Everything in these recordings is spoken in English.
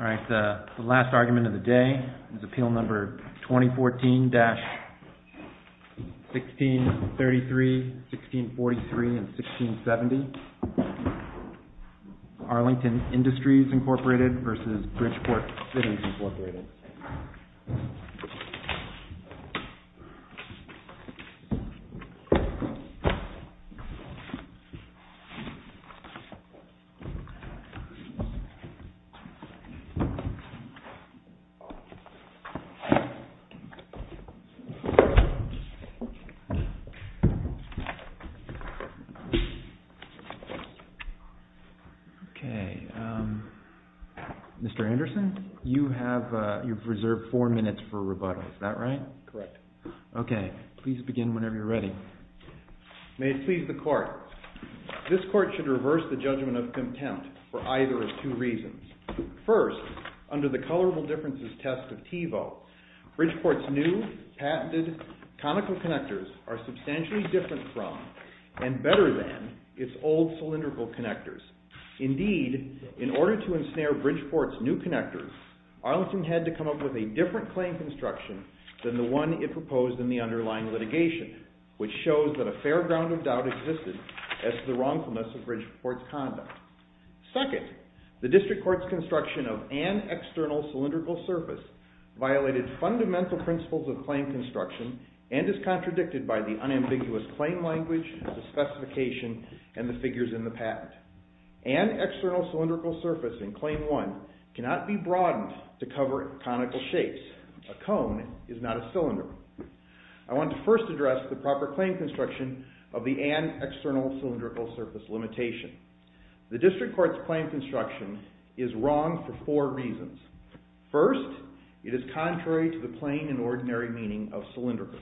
All right, the last argument of the day is Appeal Number 2014-1633, 1643, and 1670, Arlington Industries, Inc. v. Bridgeport Fittings, Inc. Mr. Anderson, you've reserved four minutes for rebuttal, is that right? Correct. Okay, please begin whenever you're ready. May it please the Court, this Court should reverse the judgment of contempt for either of two reasons. First, under the Colorable Differences Test of Tevo, Bridgeport's new, patented conical connectors are substantially different from, and better than, its old cylindrical connectors. Indeed, in order to ensnare Bridgeport's new connectors, Arlington had to come up with a different claim construction than the one it proposed in the underlying litigation, which shows that a fair ground of doubt existed as to the wrongfulness of Bridgeport's conduct. Second, the District Court's construction of an external cylindrical surface violated fundamental principles of claim construction and is contradicted by the unambiguous claim language, the specification, and the figures in the patent. An external cylindrical surface in Claim 1 cannot be broadened to cover conical shapes. A cone is not a cylinder. I want to first address the proper claim construction of the and external cylindrical surface limitation. The District Court's claim construction is wrong for four reasons. First, it is contrary to the plain and ordinary meaning of cylindrical.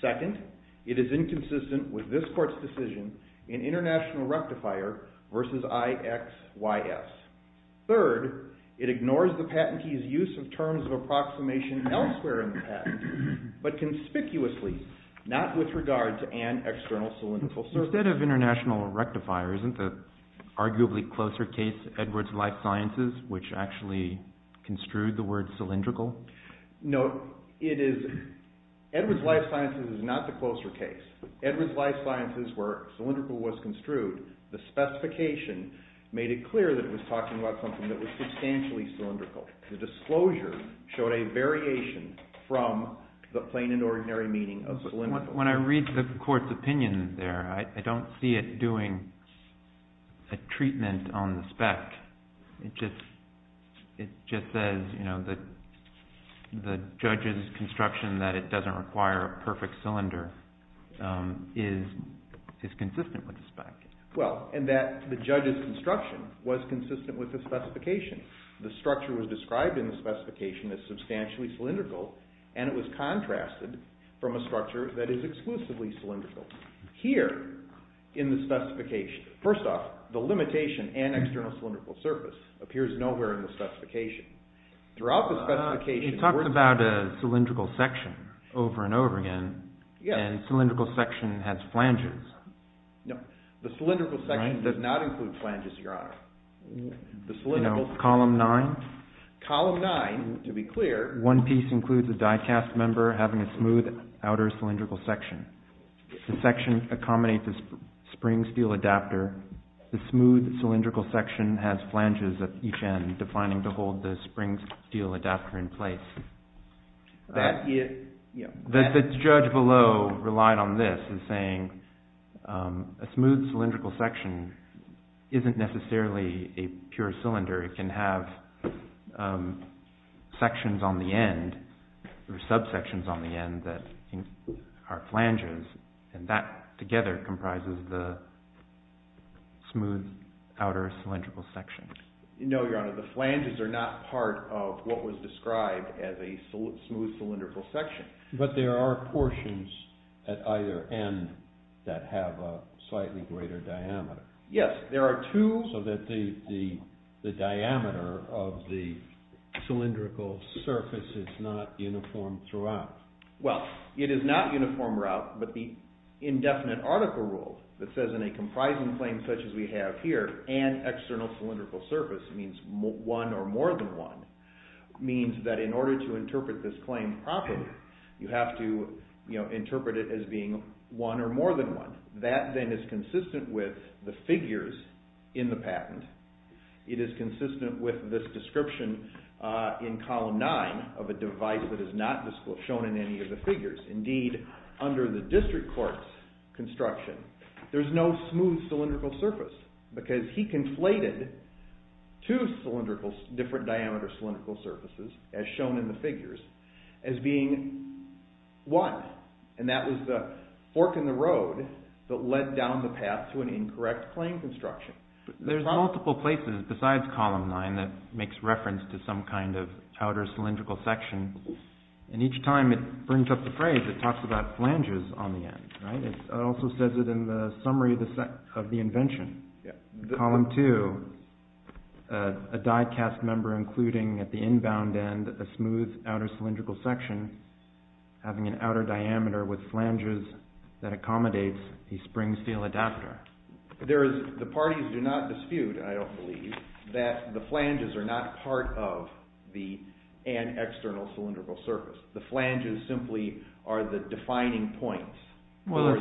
Second, it is inconsistent with this Court's decision in International Rectifier v. I-X-Y-S. Third, it ignores the patentee's use of terms of approximation elsewhere in the patent, but conspicuously, not with regard to an external cylindrical surface. Instead of International Rectifier, isn't the arguably closer case Edwards Life Sciences, which actually construed the word cylindrical? Edwards Life Sciences is not the closer case. Edwards Life Sciences, where cylindrical was construed, the specification made it clear that it was talking about something that was substantially cylindrical. The disclosure showed a variation from the plain and ordinary meaning of cylindrical. But when I read the Court's opinion there, I don't see it doing a treatment on the spec. It just says that the judge's construction, that it doesn't require a perfect cylinder, is consistent with the spec. Well, and that the judge's construction was consistent with the specification. The structure was described in the specification as substantially cylindrical, and it was contrasted from a structure that is exclusively cylindrical. Here, in the specification, first off, the limitation and external cylindrical surface appears nowhere in the specification. Throughout the specification, we're… You talked about a cylindrical section over and over again, and cylindrical section has flanges. No, the cylindrical section does not include flanges, Your Honor. The cylindrical… Column 9? Column 9, to be clear… One piece includes a die cast member having a smooth outer cylindrical section. The section accommodates a spring steel adapter. The smooth cylindrical section has flanges at each end, defining to hold the spring steel adapter in place. That is… The judge below relied on this in saying a smooth cylindrical section isn't necessarily a pure cylinder. It can have sections on the end or subsections on the end that are flanges, and that together comprises the smooth outer cylindrical section. No, Your Honor, the flanges are not part of what was described as a smooth cylindrical section. But there are portions at either end that have a slightly greater diameter. Yes, there are two… So that the diameter of the cylindrical surface is not uniform throughout. Well, it is not uniform throughout, but the indefinite article rule that says in a comprising claim such as we have here, an external cylindrical surface means one or more than one, means that in order to interpret this claim properly, you have to interpret it as being one or more than one. That then is consistent with the figures in the patent. It is consistent with this description in Column 9 of a device that is not shown in any of the figures. Indeed, under the district court's construction, there's no smooth cylindrical surface because he conflated two different diameter cylindrical surfaces, as shown in the figures, as being one. And that was the fork in the road that led down the path to an incorrect claim construction. There's multiple places besides Column 9 that makes reference to some kind of outer cylindrical section. And each time it brings up the phrase, it talks about flanges on the end. It also says it in the summary of the invention. Column 2, a die cast member including at the inbound end a smooth outer cylindrical section having an outer diameter with flanges that accommodates a spring steel adapter. The parties do not dispute, I don't believe, that the flanges are not part of an external cylindrical surface. The flanges simply are the defining points. I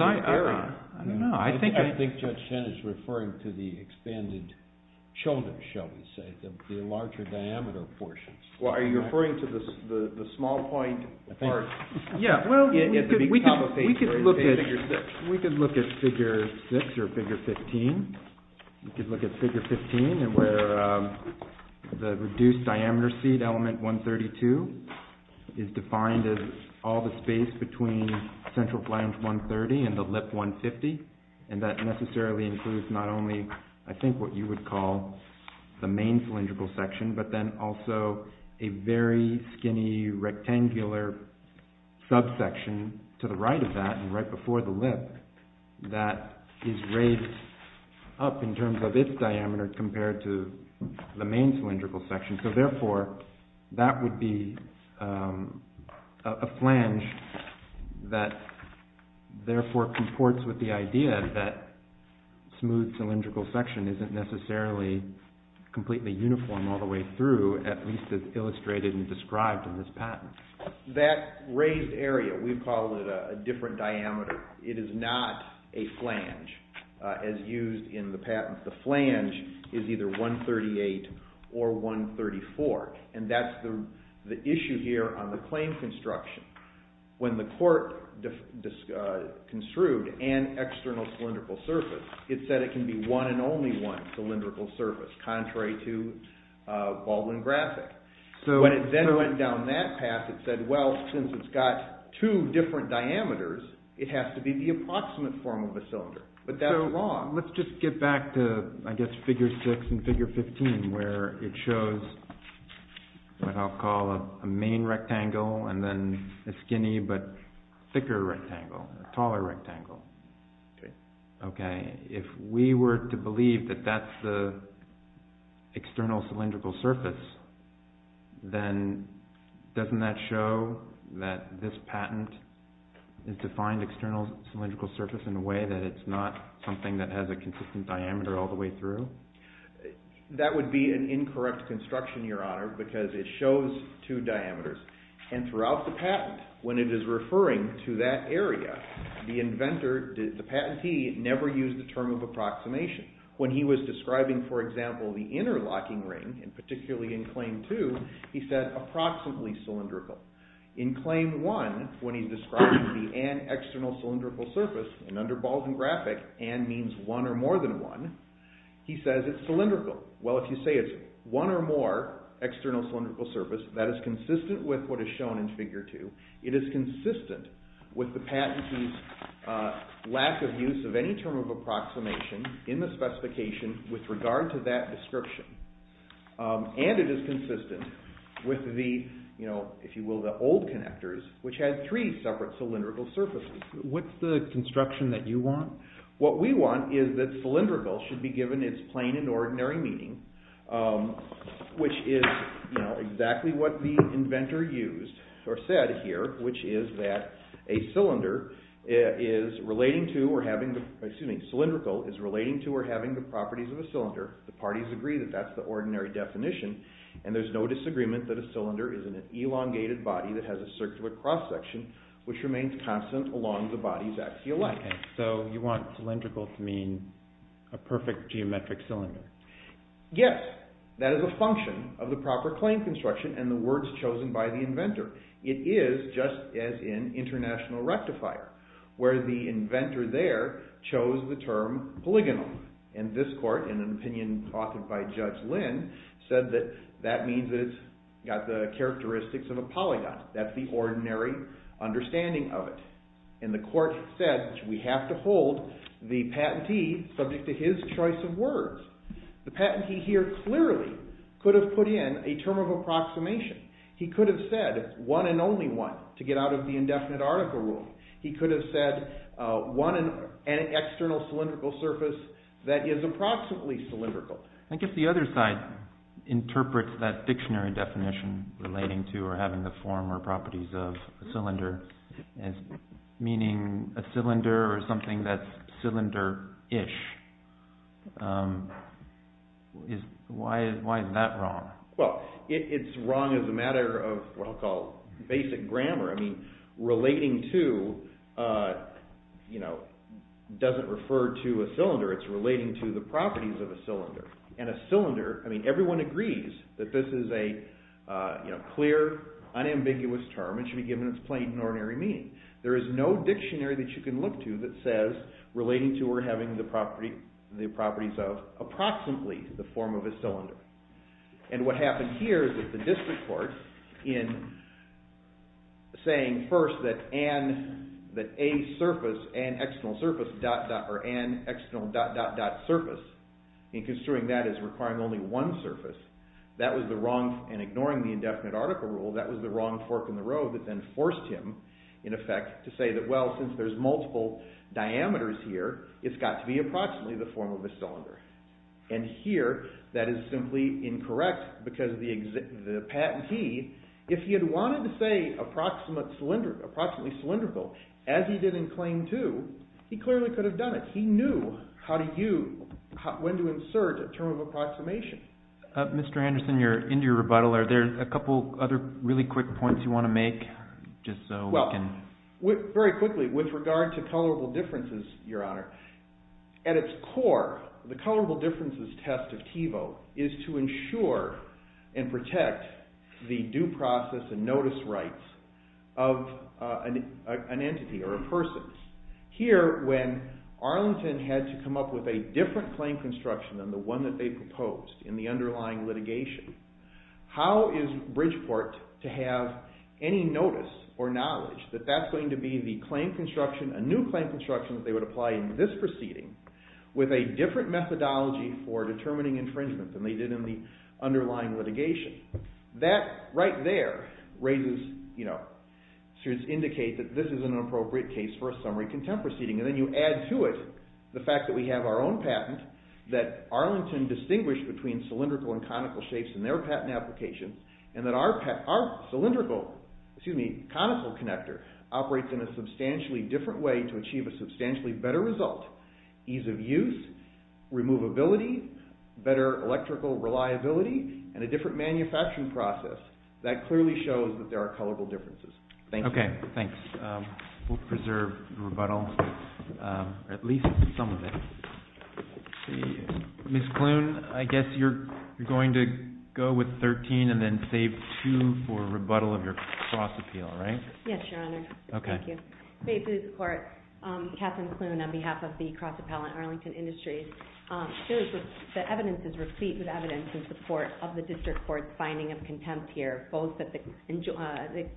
think Judge Chen is referring to the expanded shoulders, shall we say, the larger diameter portions. Are you referring to the small point part? We could look at figure 6 or figure 15. We could look at figure 15 where the reduced diameter seat element 132 is defined as all the space between central flange 130 and the lip 150. And that necessarily includes not only, I think, what you would call the main cylindrical section, but then also a very skinny rectangular subsection to the right of that and right before the lip that is raised up in terms of its diameter compared to the main cylindrical section. So therefore, that would be a flange that therefore comports with the idea that smooth cylindrical section isn't necessarily completely uniform all the way through, at least as illustrated and described in this patent. That raised area, we call it a different diameter. It is not a flange as used in the patent. The flange is either 138 or 134, and that's the issue here on the claim construction. When the court construed an external cylindrical surface, it said it can be one and only one cylindrical surface, contrary to Baldwin-Grafik. When it then went down that path, it said, well, since it's got two different diameters, it has to be the approximate form of a cylinder. But that's wrong. Let's just get back to, I guess, figure 6 and figure 15, where it shows what I'll call a main rectangle and then a skinny but thicker rectangle, a taller rectangle. Okay. If we were to believe that that's the external cylindrical surface, then doesn't that show that this patent has defined external cylindrical surface in a way that it's not something that has a consistent diameter all the way through? That would be an incorrect construction, Your Honor, because it shows two diameters. And throughout the patent, when it is referring to that area, the inventor, the patentee, never used the term of approximation. When he was describing, for example, the inner locking ring, and particularly in Claim 2, he said approximately cylindrical. In Claim 1, when he's describing the an external cylindrical surface, and under Baldwin-Grafik, an means one or more than one, he says it's cylindrical. Well, if you say it's one or more external cylindrical surface, that is consistent with what is shown in Figure 2. It is consistent with the patentee's lack of use of any term of approximation in the specification with regard to that description. And it is consistent with the, if you will, the old connectors, which had three separate cylindrical surfaces. What's the construction that you want? What we want is that cylindrical should be given its plain and ordinary meaning, which is exactly what the inventor used or said here, which is that a cylinder is relating to or having, excuse me, cylindrical is relating to or having the properties of a cylinder. The parties agree that that's the ordinary definition, and there's no disagreement that a cylinder is an elongated body that has a circular cross section, which remains constant along the body's axial line. So you want cylindrical to mean a perfect geometric cylinder. Yes, that is a function of the proper claim construction and the words chosen by the inventor. It is just as in International Rectifier, where the inventor there chose the term polygonal. And this court, in an opinion offered by Judge Lynn, said that that means it's got the characteristics of a polygon. That's the ordinary understanding of it. And the court said we have to hold the patentee subject to his choice of words. The patentee here clearly could have put in a term of approximation. He could have said one and only one to get out of the indefinite article rule. He could have said an external cylindrical surface that is approximately cylindrical. I guess the other side interprets that dictionary definition relating to or having the form or properties of a cylinder as meaning a cylinder or something that's cylinder-ish. Why is that wrong? Well, it's wrong as a matter of what I'll call basic grammar. Relating to doesn't refer to a cylinder. It's relating to the properties of a cylinder. And a cylinder, everyone agrees that this is a clear, unambiguous term and should be given its plain and ordinary meaning. There is no dictionary that you can look to that says relating to or having the properties of approximately the form of a cylinder. And what happened here is that the district court in saying first that an external dot-dot-dot surface in construing that as requiring only one surface, that was the wrong, and ignoring the indefinite article rule, that was the wrong fork in the road that then forced him, in effect, to say that, well, since there's multiple diameters here, it's got to be approximately the form of a cylinder. And here, that is simply incorrect because the patentee, if he had wanted to say approximately cylindrical, as he did in Claim 2, he clearly could have done it. He knew when to insert a term of approximation. Mr. Anderson, you're into your rebuttal. Are there a couple other really quick points you want to make? Very quickly, with regard to colorable differences, Your Honor, at its core, the colorable differences test of TEVO is to ensure and protect the due process and notice rights of an entity or a person. Here, when Arlington had to come up with a different claim construction than the one that they proposed in the underlying litigation, how is Bridgeport to have any notice or knowledge that that's going to be the claim construction, a new claim construction that they would apply in this proceeding, with a different methodology for determining infringement than they did in the underlying litigation. That, right there, should indicate that this is an appropriate case for a summary contempt proceeding. And then you add to it the fact that we have our own patent that Arlington distinguished between cylindrical and conical shapes in their patent application, and that our cylindrical, excuse me, conical connector operates in a substantially different way to achieve a substantially better result, ease of use, removability, better electrical reliability, and a different manufacturing process. That clearly shows that there are colorable differences. Thanks. Okay, thanks. We'll preserve the rebuttal, or at least some of it. Ms. Klune, I guess you're going to go with 13 and then save two for rebuttal of your cross-appeal, right? Yes, Your Honor. Okay. Thank you. Saved through the court. Katherine Klune on behalf of the Cross Appellant Arlington Industries. The evidence is replete with evidence in support of the district court's finding of contempt here, both that the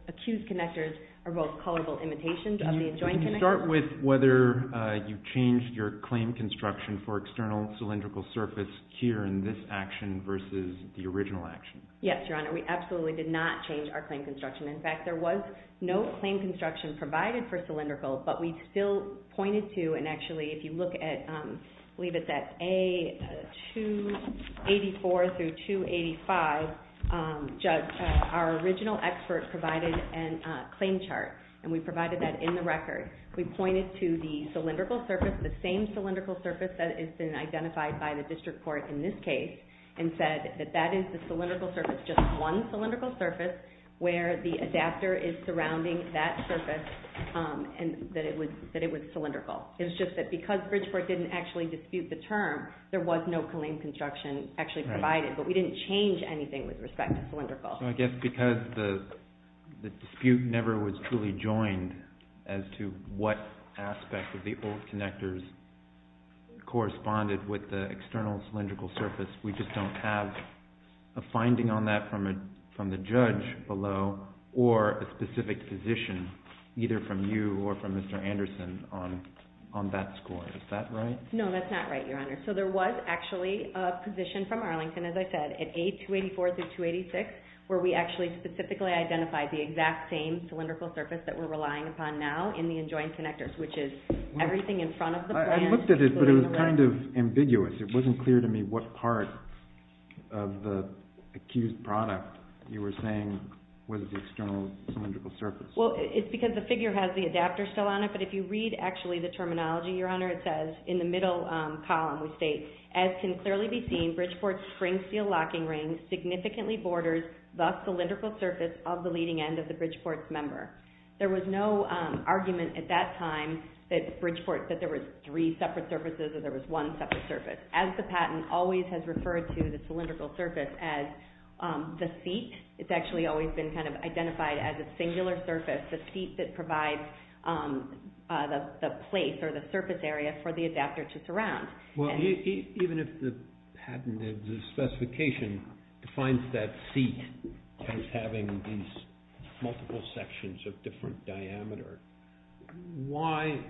accused connectors are both colorable imitations of the adjoined connectors. Can you start with whether you changed your claim construction for external cylindrical surface here in this action versus the original action? Yes, Your Honor. We absolutely did not change our claim construction. In fact, there was no claim construction provided for cylindrical, but we still pointed to, and actually if you look at, I believe it's at A284 through 285, our original expert provided a claim chart, and we provided that in the record. We pointed to the cylindrical surface, the same cylindrical surface that has been identified by the district court in this case and said that that is the cylindrical surface, just one cylindrical surface where the adapter is surrounding that surface and that it was cylindrical. It was just that because Bridgeport didn't actually dispute the term, there was no claim construction actually provided, but we didn't change anything with respect to cylindrical. So I guess because the dispute never was truly joined as to what aspect of the old connectors corresponded with the external cylindrical surface, we just don't have a finding on that from the judge below or a specific position either from you or from Mr. Anderson on that score. Is that right? No, that's not right, Your Honor. So there was actually a position from Arlington, as I said, at A284 through 286 where we actually specifically identified the exact same cylindrical surface that we're relying upon now in the enjoined connectors, which is everything in front of the plan. I looked at it, but it was kind of ambiguous. It wasn't clear to me what part of the accused product you were saying was the external cylindrical surface. Well, it's because the figure has the adapter still on it, but if you read actually the terminology, Your Honor, it says in the middle column, we state, as can clearly be seen, Bridgeport's spring steel locking ring significantly borders the cylindrical surface of the leading end of the Bridgeport's member. There was no argument at that time that Bridgeport said there was three separate surfaces or there was one separate surface. As the patent always has referred to the cylindrical surface as the seat, it's actually always been kind of identified as a singular surface, for the adapter to surround. Well, even if the patent and the specification defines that seat as having these multiple sections of different diameter, why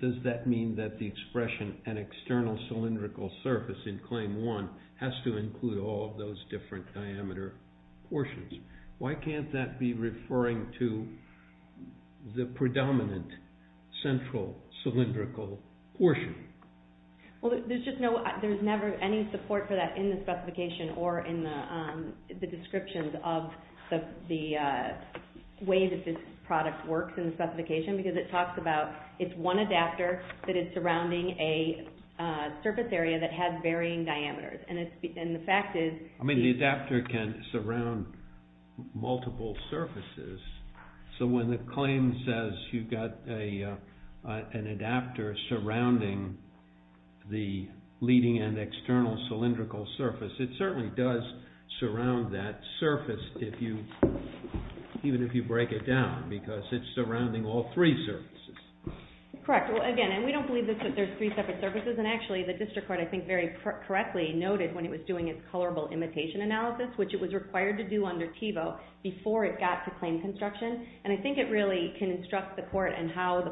does that mean that the expression an external cylindrical surface in Claim 1 has to include all of those different diameter portions? Why can't that be referring to the predominant central cylindrical portion? Well, there's never any support for that in the specification or in the descriptions of the way that this product works in the specification because it talks about it's one adapter that is surrounding a surface area that has varying diameters, and the fact is... I mean, the adapter can surround multiple surfaces, so when the claim says you've got an adapter surrounding the leading end external cylindrical surface, it certainly does surround that surface, even if you break it down, because it's surrounding all three surfaces. Correct. Well, again, we don't believe that there's three separate surfaces, and actually the District Court, I think, very correctly noted when it was doing its colorable imitation analysis, which it was required to do under TiVo before it got to claim construction, and I think it really can instruct the court in how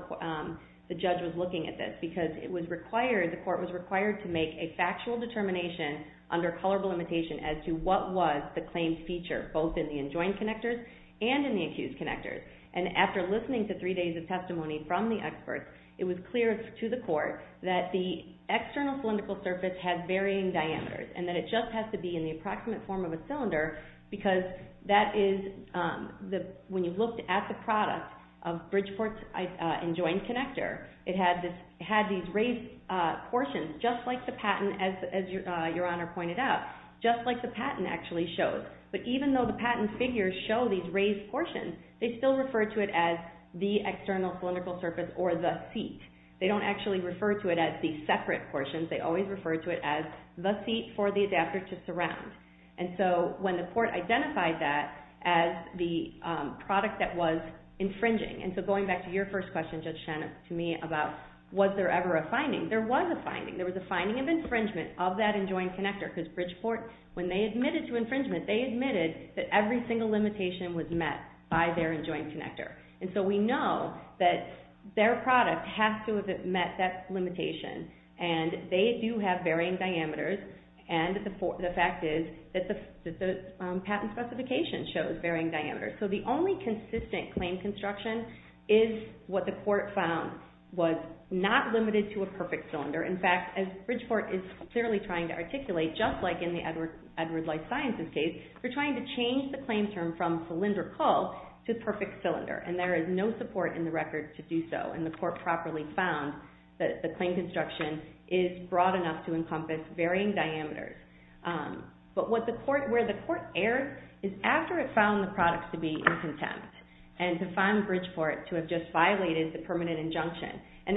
the judge was looking at this, because the court was required to make a factual determination under colorable imitation as to what was the claim's feature, both in the enjoined connectors and in the accused connectors, and after listening to three days of testimony from the experts, it was clear to the court that the external cylindrical surface has varying diameters, and that it just has to be in the approximate form of a cylinder, because when you looked at the product of Bridgeport's enjoined connector, it had these raised portions, just like the patent, as Your Honor pointed out, just like the patent actually shows, but even though the patent figures show these raised portions, they still refer to it as the external cylindrical surface or the seat. They don't actually refer to it as the separate portions. They always refer to it as the seat for the adapter to surround, and so when the court identified that as the product that was infringing, and so going back to your first question, Judge Shannon, to me, about was there ever a finding, there was a finding. There was a finding of infringement of that enjoined connector, because Bridgeport, when they admitted to infringement, they admitted that every single limitation was met by their enjoined connector, and so we know that their product has to have met that limitation, and they do have varying diameters, and the fact is that the patent specification shows varying diameters. So the only consistent claim construction is what the court found was not limited to a perfect cylinder. In fact, as Bridgeport is clearly trying to articulate, just like in the Edward Light Sciences case, they're trying to change the claim term from cylindrical to perfect cylinder, and there is no support in the record to do so, and the court properly found that the claim construction is broad enough to encompass varying diameters. But where the court erred is after it found the product to be in contempt and to find Bridgeport to have just violated the permanent injunction, and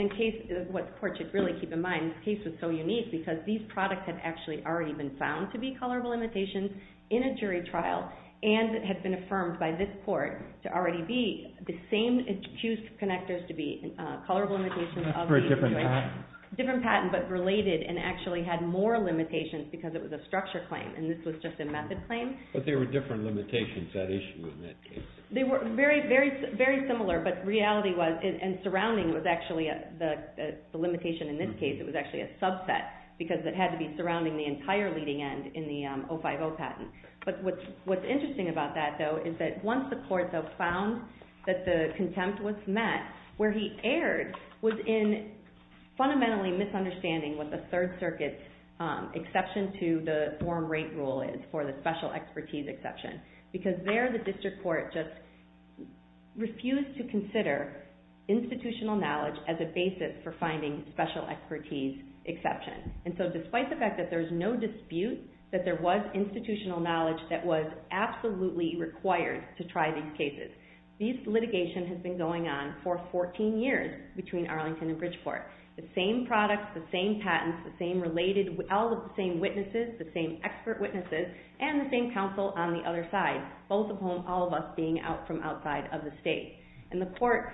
what the court should really keep in mind, this case was so unique because these products had actually already been found to be colorable limitations in a jury trial and had been affirmed by this court to already be the same and had used connectors to be colorable limitations. For a different patent. Different patent, but related and actually had more limitations because it was a structure claim and this was just a method claim. But there were different limitations that issue in that case. They were very similar, but reality was, and surrounding was actually the limitation in this case, it was actually a subset because it had to be surrounding the entire leading end in the 050 patent. But what's interesting about that, though, is that once the court, though, found that the contempt was met, where he erred was in fundamentally misunderstanding what the Third Circuit exception to the form rate rule is for the special expertise exception. Because there the district court just refused to consider institutional knowledge as a basis for finding special expertise exception. And so despite the fact that there's no dispute that there was institutional knowledge that was absolutely required to try these cases, this litigation has been going on for 14 years between Arlington and Bridgeport. The same products, the same patents, the same related, all of the same witnesses, the same expert witnesses, and the same counsel on the other side. Both of whom, all of us being from outside of the state. And the court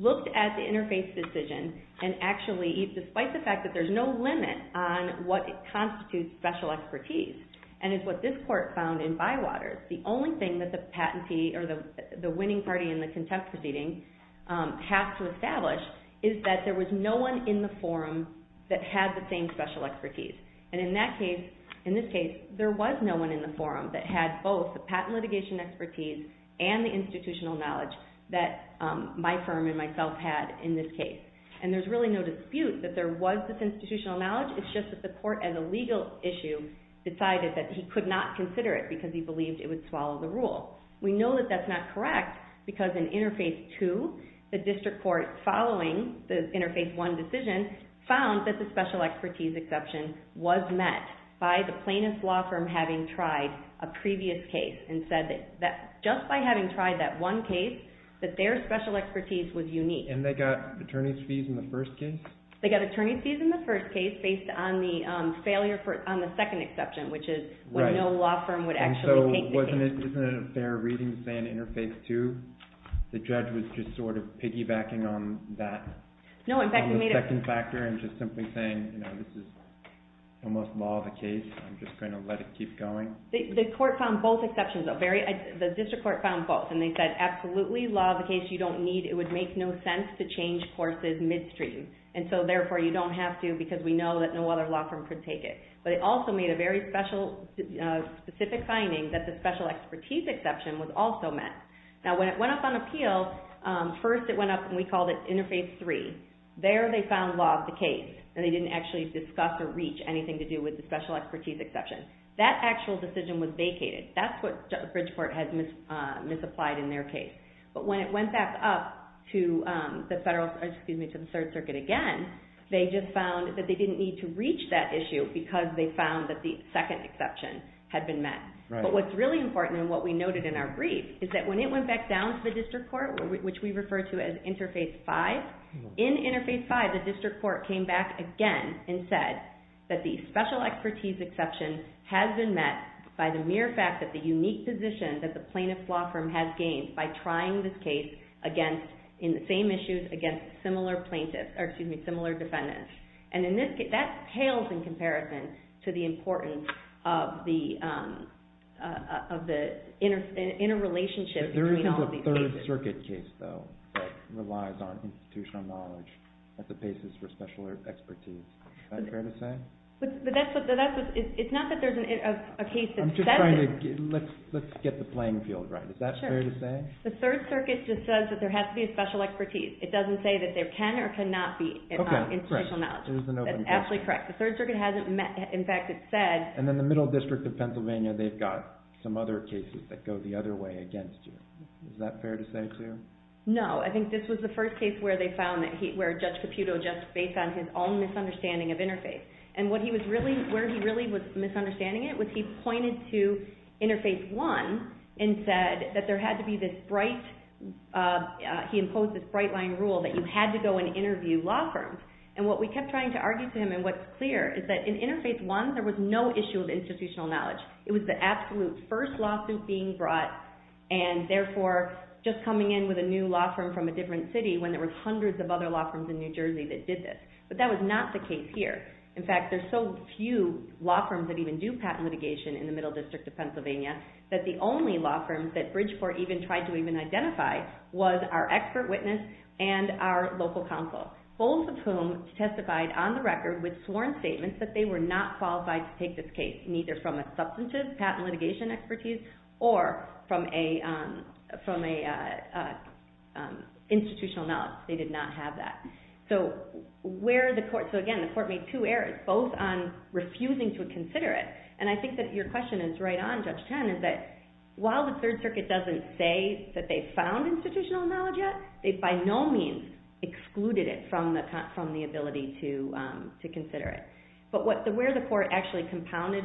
looked at the interface decision and actually despite the fact that there's no limit on what constitutes special expertise and is what this court found in Bywaters, the only thing that the winning party in the contempt proceeding have to establish is that there was no one in the forum that had the same special expertise. And in this case, there was no one in the forum that had both the patent litigation expertise and the institutional knowledge that my firm and myself had in this case. And there's really no dispute that there was this institutional knowledge, it's just that the court, as a legal issue, decided that he could not consider it because he believed it would swallow the rule. We know that that's not correct because in Interface 2, the district court following the Interface 1 decision found that the special expertise exception was met by the plaintiff's law firm having tried a previous case and said that just by having tried that one case, that their special expertise was unique. And they got attorney's fees in the first case? They got attorney's fees in the first case based on the failure on the second exception, which is when no law firm would actually take the case. Isn't it a fair reading to say in Interface 2 the judge was just sort of piggybacking on that, on the second factor and just simply saying, this is almost law of the case, I'm just going to let it keep going? The court found both exceptions, the district court found both. And they said, absolutely, law of the case, you don't need, it would make no sense to change courses midstream. And so therefore you don't have to because we know that no other law firm could take it. But it also made a very specific finding that the special expertise exception was also met. Now when it went up on appeal, first it went up and we called it Interface 3. There they found law of the case and they didn't actually discuss or reach anything to do with the special expertise exception. That actual decision was vacated. That's what Bridgeport has misapplied in their case. But when it went back up to the third circuit again, they just found that they didn't need to reach that issue because they found that the second exception had been met. But what's really important and what we noted in our brief is that when it went back down to the district court, which we refer to as Interface 5, in Interface 5 the district court came back again and said that the special expertise exception has been met by the mere fact that the unique position that the plaintiff's law firm has gained by trying this case in the same issues against similar defendants. And that pales in comparison to the importance of the interrelationship between all these cases. There isn't a third circuit case, though, that relies on institutional knowledge at the basis for special expertise. It's not that there's a case that says it. Let's get the playing field right. Is that fair to say? The third circuit just says that there has to be a special expertise. It doesn't say that there can or cannot be institutional knowledge. That's absolutely correct. The third circuit hasn't met. In fact, it said... And then the middle district of Pennsylvania, they've got some other cases that go the other way against you. Is that fair to say, too? No. I think this was the first case where they found that Judge Caputo, just based on his own misunderstanding of Interface, and where he really was misunderstanding it was he pointed to Interface 1 and said that there had to be this bright... He imposed this bright-line rule that you had to go and interview law firms. And what we kept trying to argue to him, and what's clear, is that in Interface 1, there was no issue of institutional knowledge. It was the absolute first lawsuit being brought and, therefore, just coming in with a new law firm from a different city when there were hundreds of other law firms in New Jersey that did this. But that was not the case here. In fact, there's so few law firms that even do patent litigation in the Middle District of Pennsylvania that the only law firms that Bridgeport even tried to even identify was our expert witness and our local counsel, both of whom testified on the record with sworn statements that they were not qualified to take this case, neither from a substantive patent litigation expertise or from an institutional knowledge. They did not have that. So, where the court... So, again, the court made two errors, both on refusing to consider it, and I think that your question is right on, Judge Chen, is that while the Third Circuit doesn't say that they found institutional knowledge yet, they by no means excluded it from the ability to consider it. But where the court actually compounded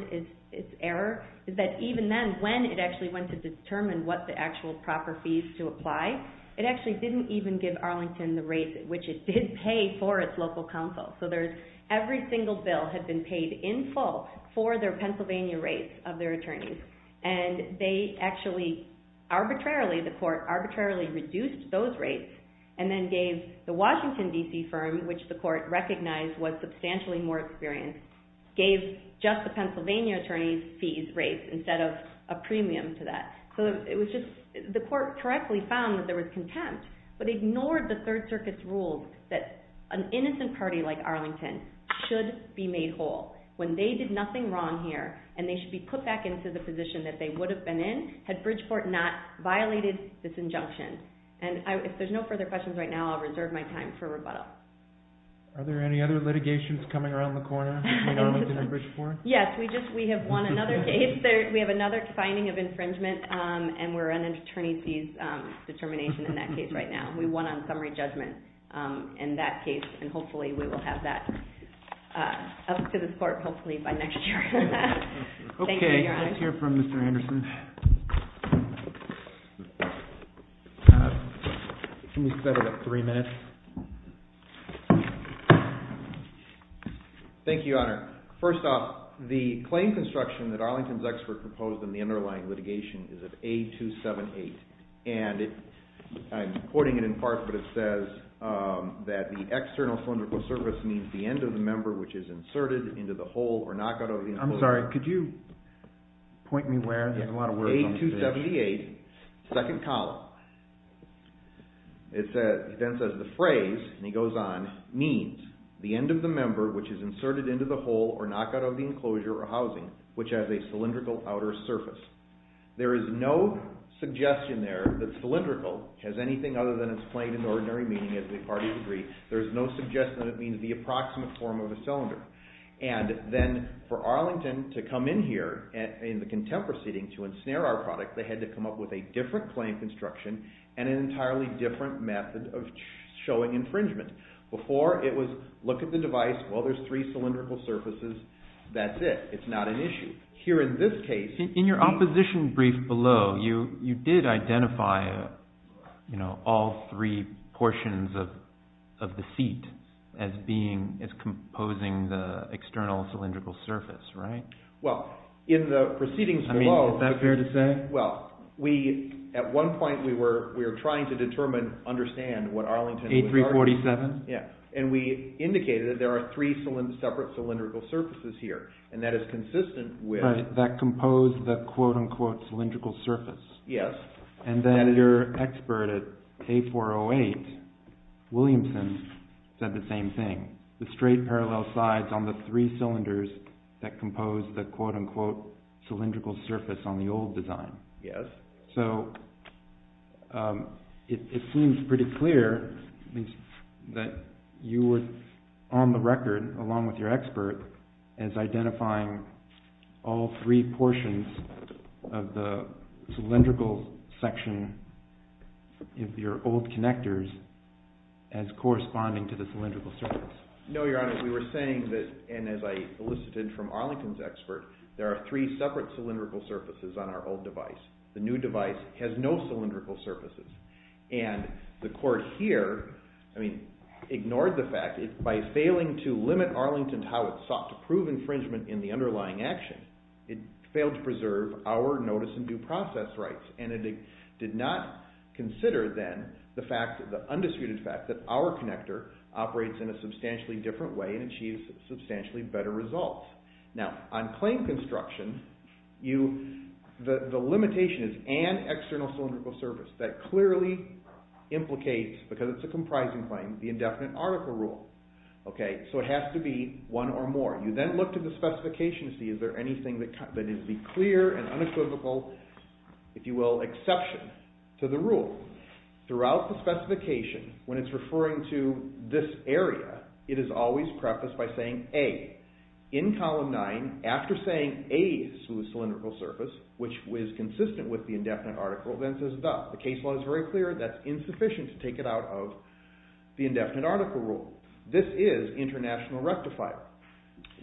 its error is that even then, when it actually went to determine what the actual proper fees to apply, it actually didn't even give Arlington the rates at which it did pay for its local counsel. So, every single bill had been paid in full for their Pennsylvania rates of their attorneys, and they actually arbitrarily, the court arbitrarily reduced those rates and then gave the Washington, D.C. firm, which the court recognized was substantially more experienced, gave just the Pennsylvania attorneys' fees rates instead of a premium to that. So, it was just... The court correctly found that there was contempt, but ignored the Third Circuit's rules that an innocent party like Arlington should be made whole. When they did nothing wrong here and they should be put back into the position that they would have been in had Bridgeport not violated this injunction. And if there's no further questions right now, I'll reserve my time for rebuttal. Are there any other litigations coming around the corner in Arlington and Bridgeport? Yes, we have won another case. We have another finding of infringement and we're on an attorney's fees determination in that case right now. We won on summary judgment. In that case, and hopefully we will have that up to this court hopefully by next year. Thank you, Your Honor. Okay, let's hear from Mr. Anderson. Can we set it at three minutes? Thank you, Your Honor. First off, the claim construction that Arlington's expert proposed in the underlying litigation is of A278. And I'm quoting it in part, but it says that the external cylindrical surface means the end of the member which is inserted into the hole or knockout of the enclosure. I'm sorry, could you point me where? There's a lot of work on this. A278, second column. It then says the phrase, and he goes on, means the end of the member which is inserted into the hole or knockout of the enclosure or housing which has a cylindrical outer surface. There is no suggestion there that cylindrical has anything other than its plain and ordinary meaning as the parties agree. There is no suggestion that it means the approximate form of a cylinder. And then for Arlington to come in here in the contempt proceeding to ensnare our product, they had to come up with a different claim construction and an entirely different method of showing infringement. Before, it was look at the device, well, there's three cylindrical surfaces, that's it, it's not an issue. Here in this case... In your opposition brief below, you did identify, you know, all three portions of the seat as being, as composing the external cylindrical surface, right? Well, in the proceedings below... I mean, is that fair to say? Well, we, at one point, we were trying to determine, understand what Arlington... A347? Yeah, and we indicated that there are three separate cylindrical surfaces here and that is consistent with... Right, that composed the quote-unquote cylindrical surface. Yes. And then your expert at A408, Williamson, said the same thing. The straight parallel sides on the three cylinders that composed the quote-unquote cylindrical surface on the old design. Yes. So, it seems pretty clear that you were on the record, along with your expert, as identifying all three portions of the cylindrical section of your old connectors as corresponding to the cylindrical surface. No, Your Honor. We were saying that, and as I elicited from Arlington's expert, there are three separate cylindrical surfaces on our old device. The new device has no cylindrical surfaces. And the court here, I mean, ignored the fact, by failing to limit Arlington to how it sought to prove infringement in the underlying action, it failed to preserve our notice and due process rights. And it did not consider, then, the fact, the undisputed fact, that our connector operates in a substantially different way and achieves substantially better results. Now, on claim construction, the limitation is an external cylindrical surface that clearly implicates, because it's a comprising claim, the indefinite article rule. Okay, so it has to be one or more. You then look to the specification to see is there anything that is the clear and unequivocal, if you will, exception to the rule. Throughout the specification, when it's referring to this area, it is always prefaced by saying A. In Column 9, after saying A to the cylindrical surface, which was consistent with the indefinite article, then it says the. The case law is very clear. That's insufficient to take it out of the indefinite article rule. This is international rectifier.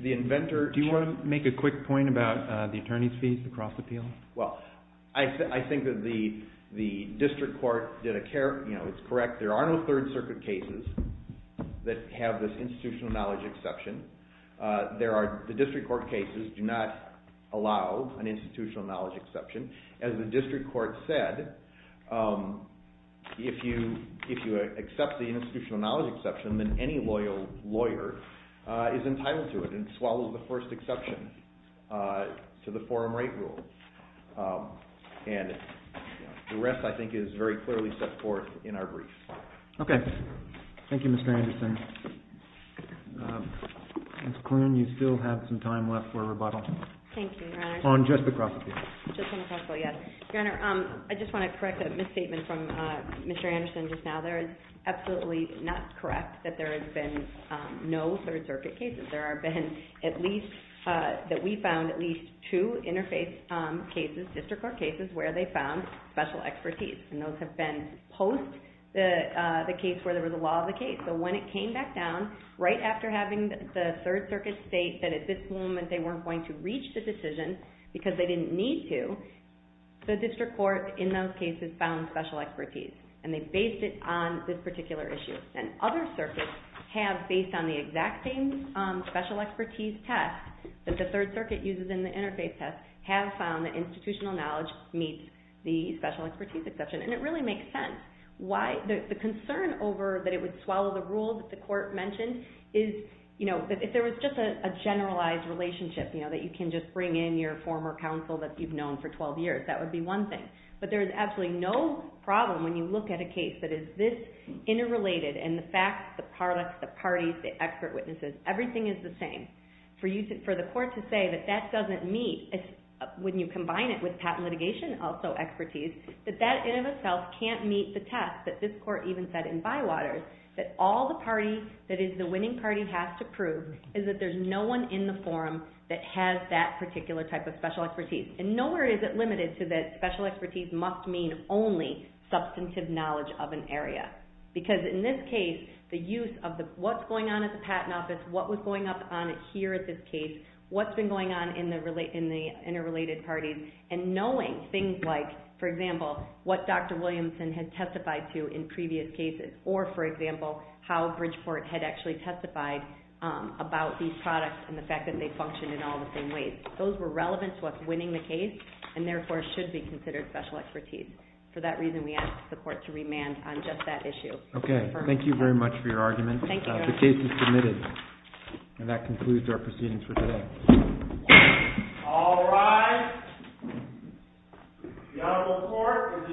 The inventor... Do you want to make a quick point about the attorney's fees across the field? Well, I think that the district court did a... You know, it's correct. There are no Third Circuit cases that have this institutional knowledge exception. There are... The district court cases do not allow an institutional knowledge exception. As the district court said, if you accept the institutional knowledge exception, then any loyal lawyer is entitled to it and swallows the first exception to the forum rate rule. And the rest, I think, is very clearly set forth in our brief. Okay. Thank you, Mr. Anderson. Ms. Klune, you still have some time left for rebuttal. Thank you, Your Honor. On just the cross-appeal. Just on the cross-appeal, yes. Your Honor, I just want to correct a misstatement from Mr. Anderson just now. There is absolutely not correct that there have been no Third Circuit cases. There have been at least... That we found at least two interfaith cases, district court cases, where they found special expertise. And those have been post the case where there was a law of the case. So when it came back down, right after having the Third Circuit state that at this moment they weren't going to reach the decision because they didn't need to, the district court in those cases found special expertise. And they based it on this particular issue. And other circuits have based on the exact same special expertise test that the Third Circuit uses in the interfaith test, have found that institutional knowledge meets the special expertise exception. And it really makes sense. Why? The concern over that it would swallow the rule that the court mentioned is, you know, if there was just a generalized relationship, you know, that you can just bring in your former counsel that you've known for 12 years, that would be one thing. But there is absolutely no problem when you look at a case that is this interrelated and the facts, the products, the parties, the expert witnesses, everything is the same. For you to, for the court to say that that doesn't meet, when you combine it with patent litigation, also expertise, that that in and of itself can't meet the test that this court even said in Bywaters that all the party that is the winning party is that there's no one in the forum that has that particular type of special expertise. And nowhere is it limited to that special expertise must mean only substantive knowledge of an individual. Because in this case, the use of the, what's going on at the patent office, what was going up on here at this case, what's been going on in the interrelated parties, and knowing things like, for example, what Dr. Williamson had testified to in previous cases, or for example, how Bridgeport had actually testified about these products and the fact that they function in all the same ways. Those were relevant to us winning the case, and therefore should be considered special expertise. For that reason, we ask the court to remand on this case on just that issue. Okay. Thank you very much for your argument. Thank you very much. The case is submitted. And that concludes our proceedings for today. All rise. The Honorable Court is adjourned from day to day.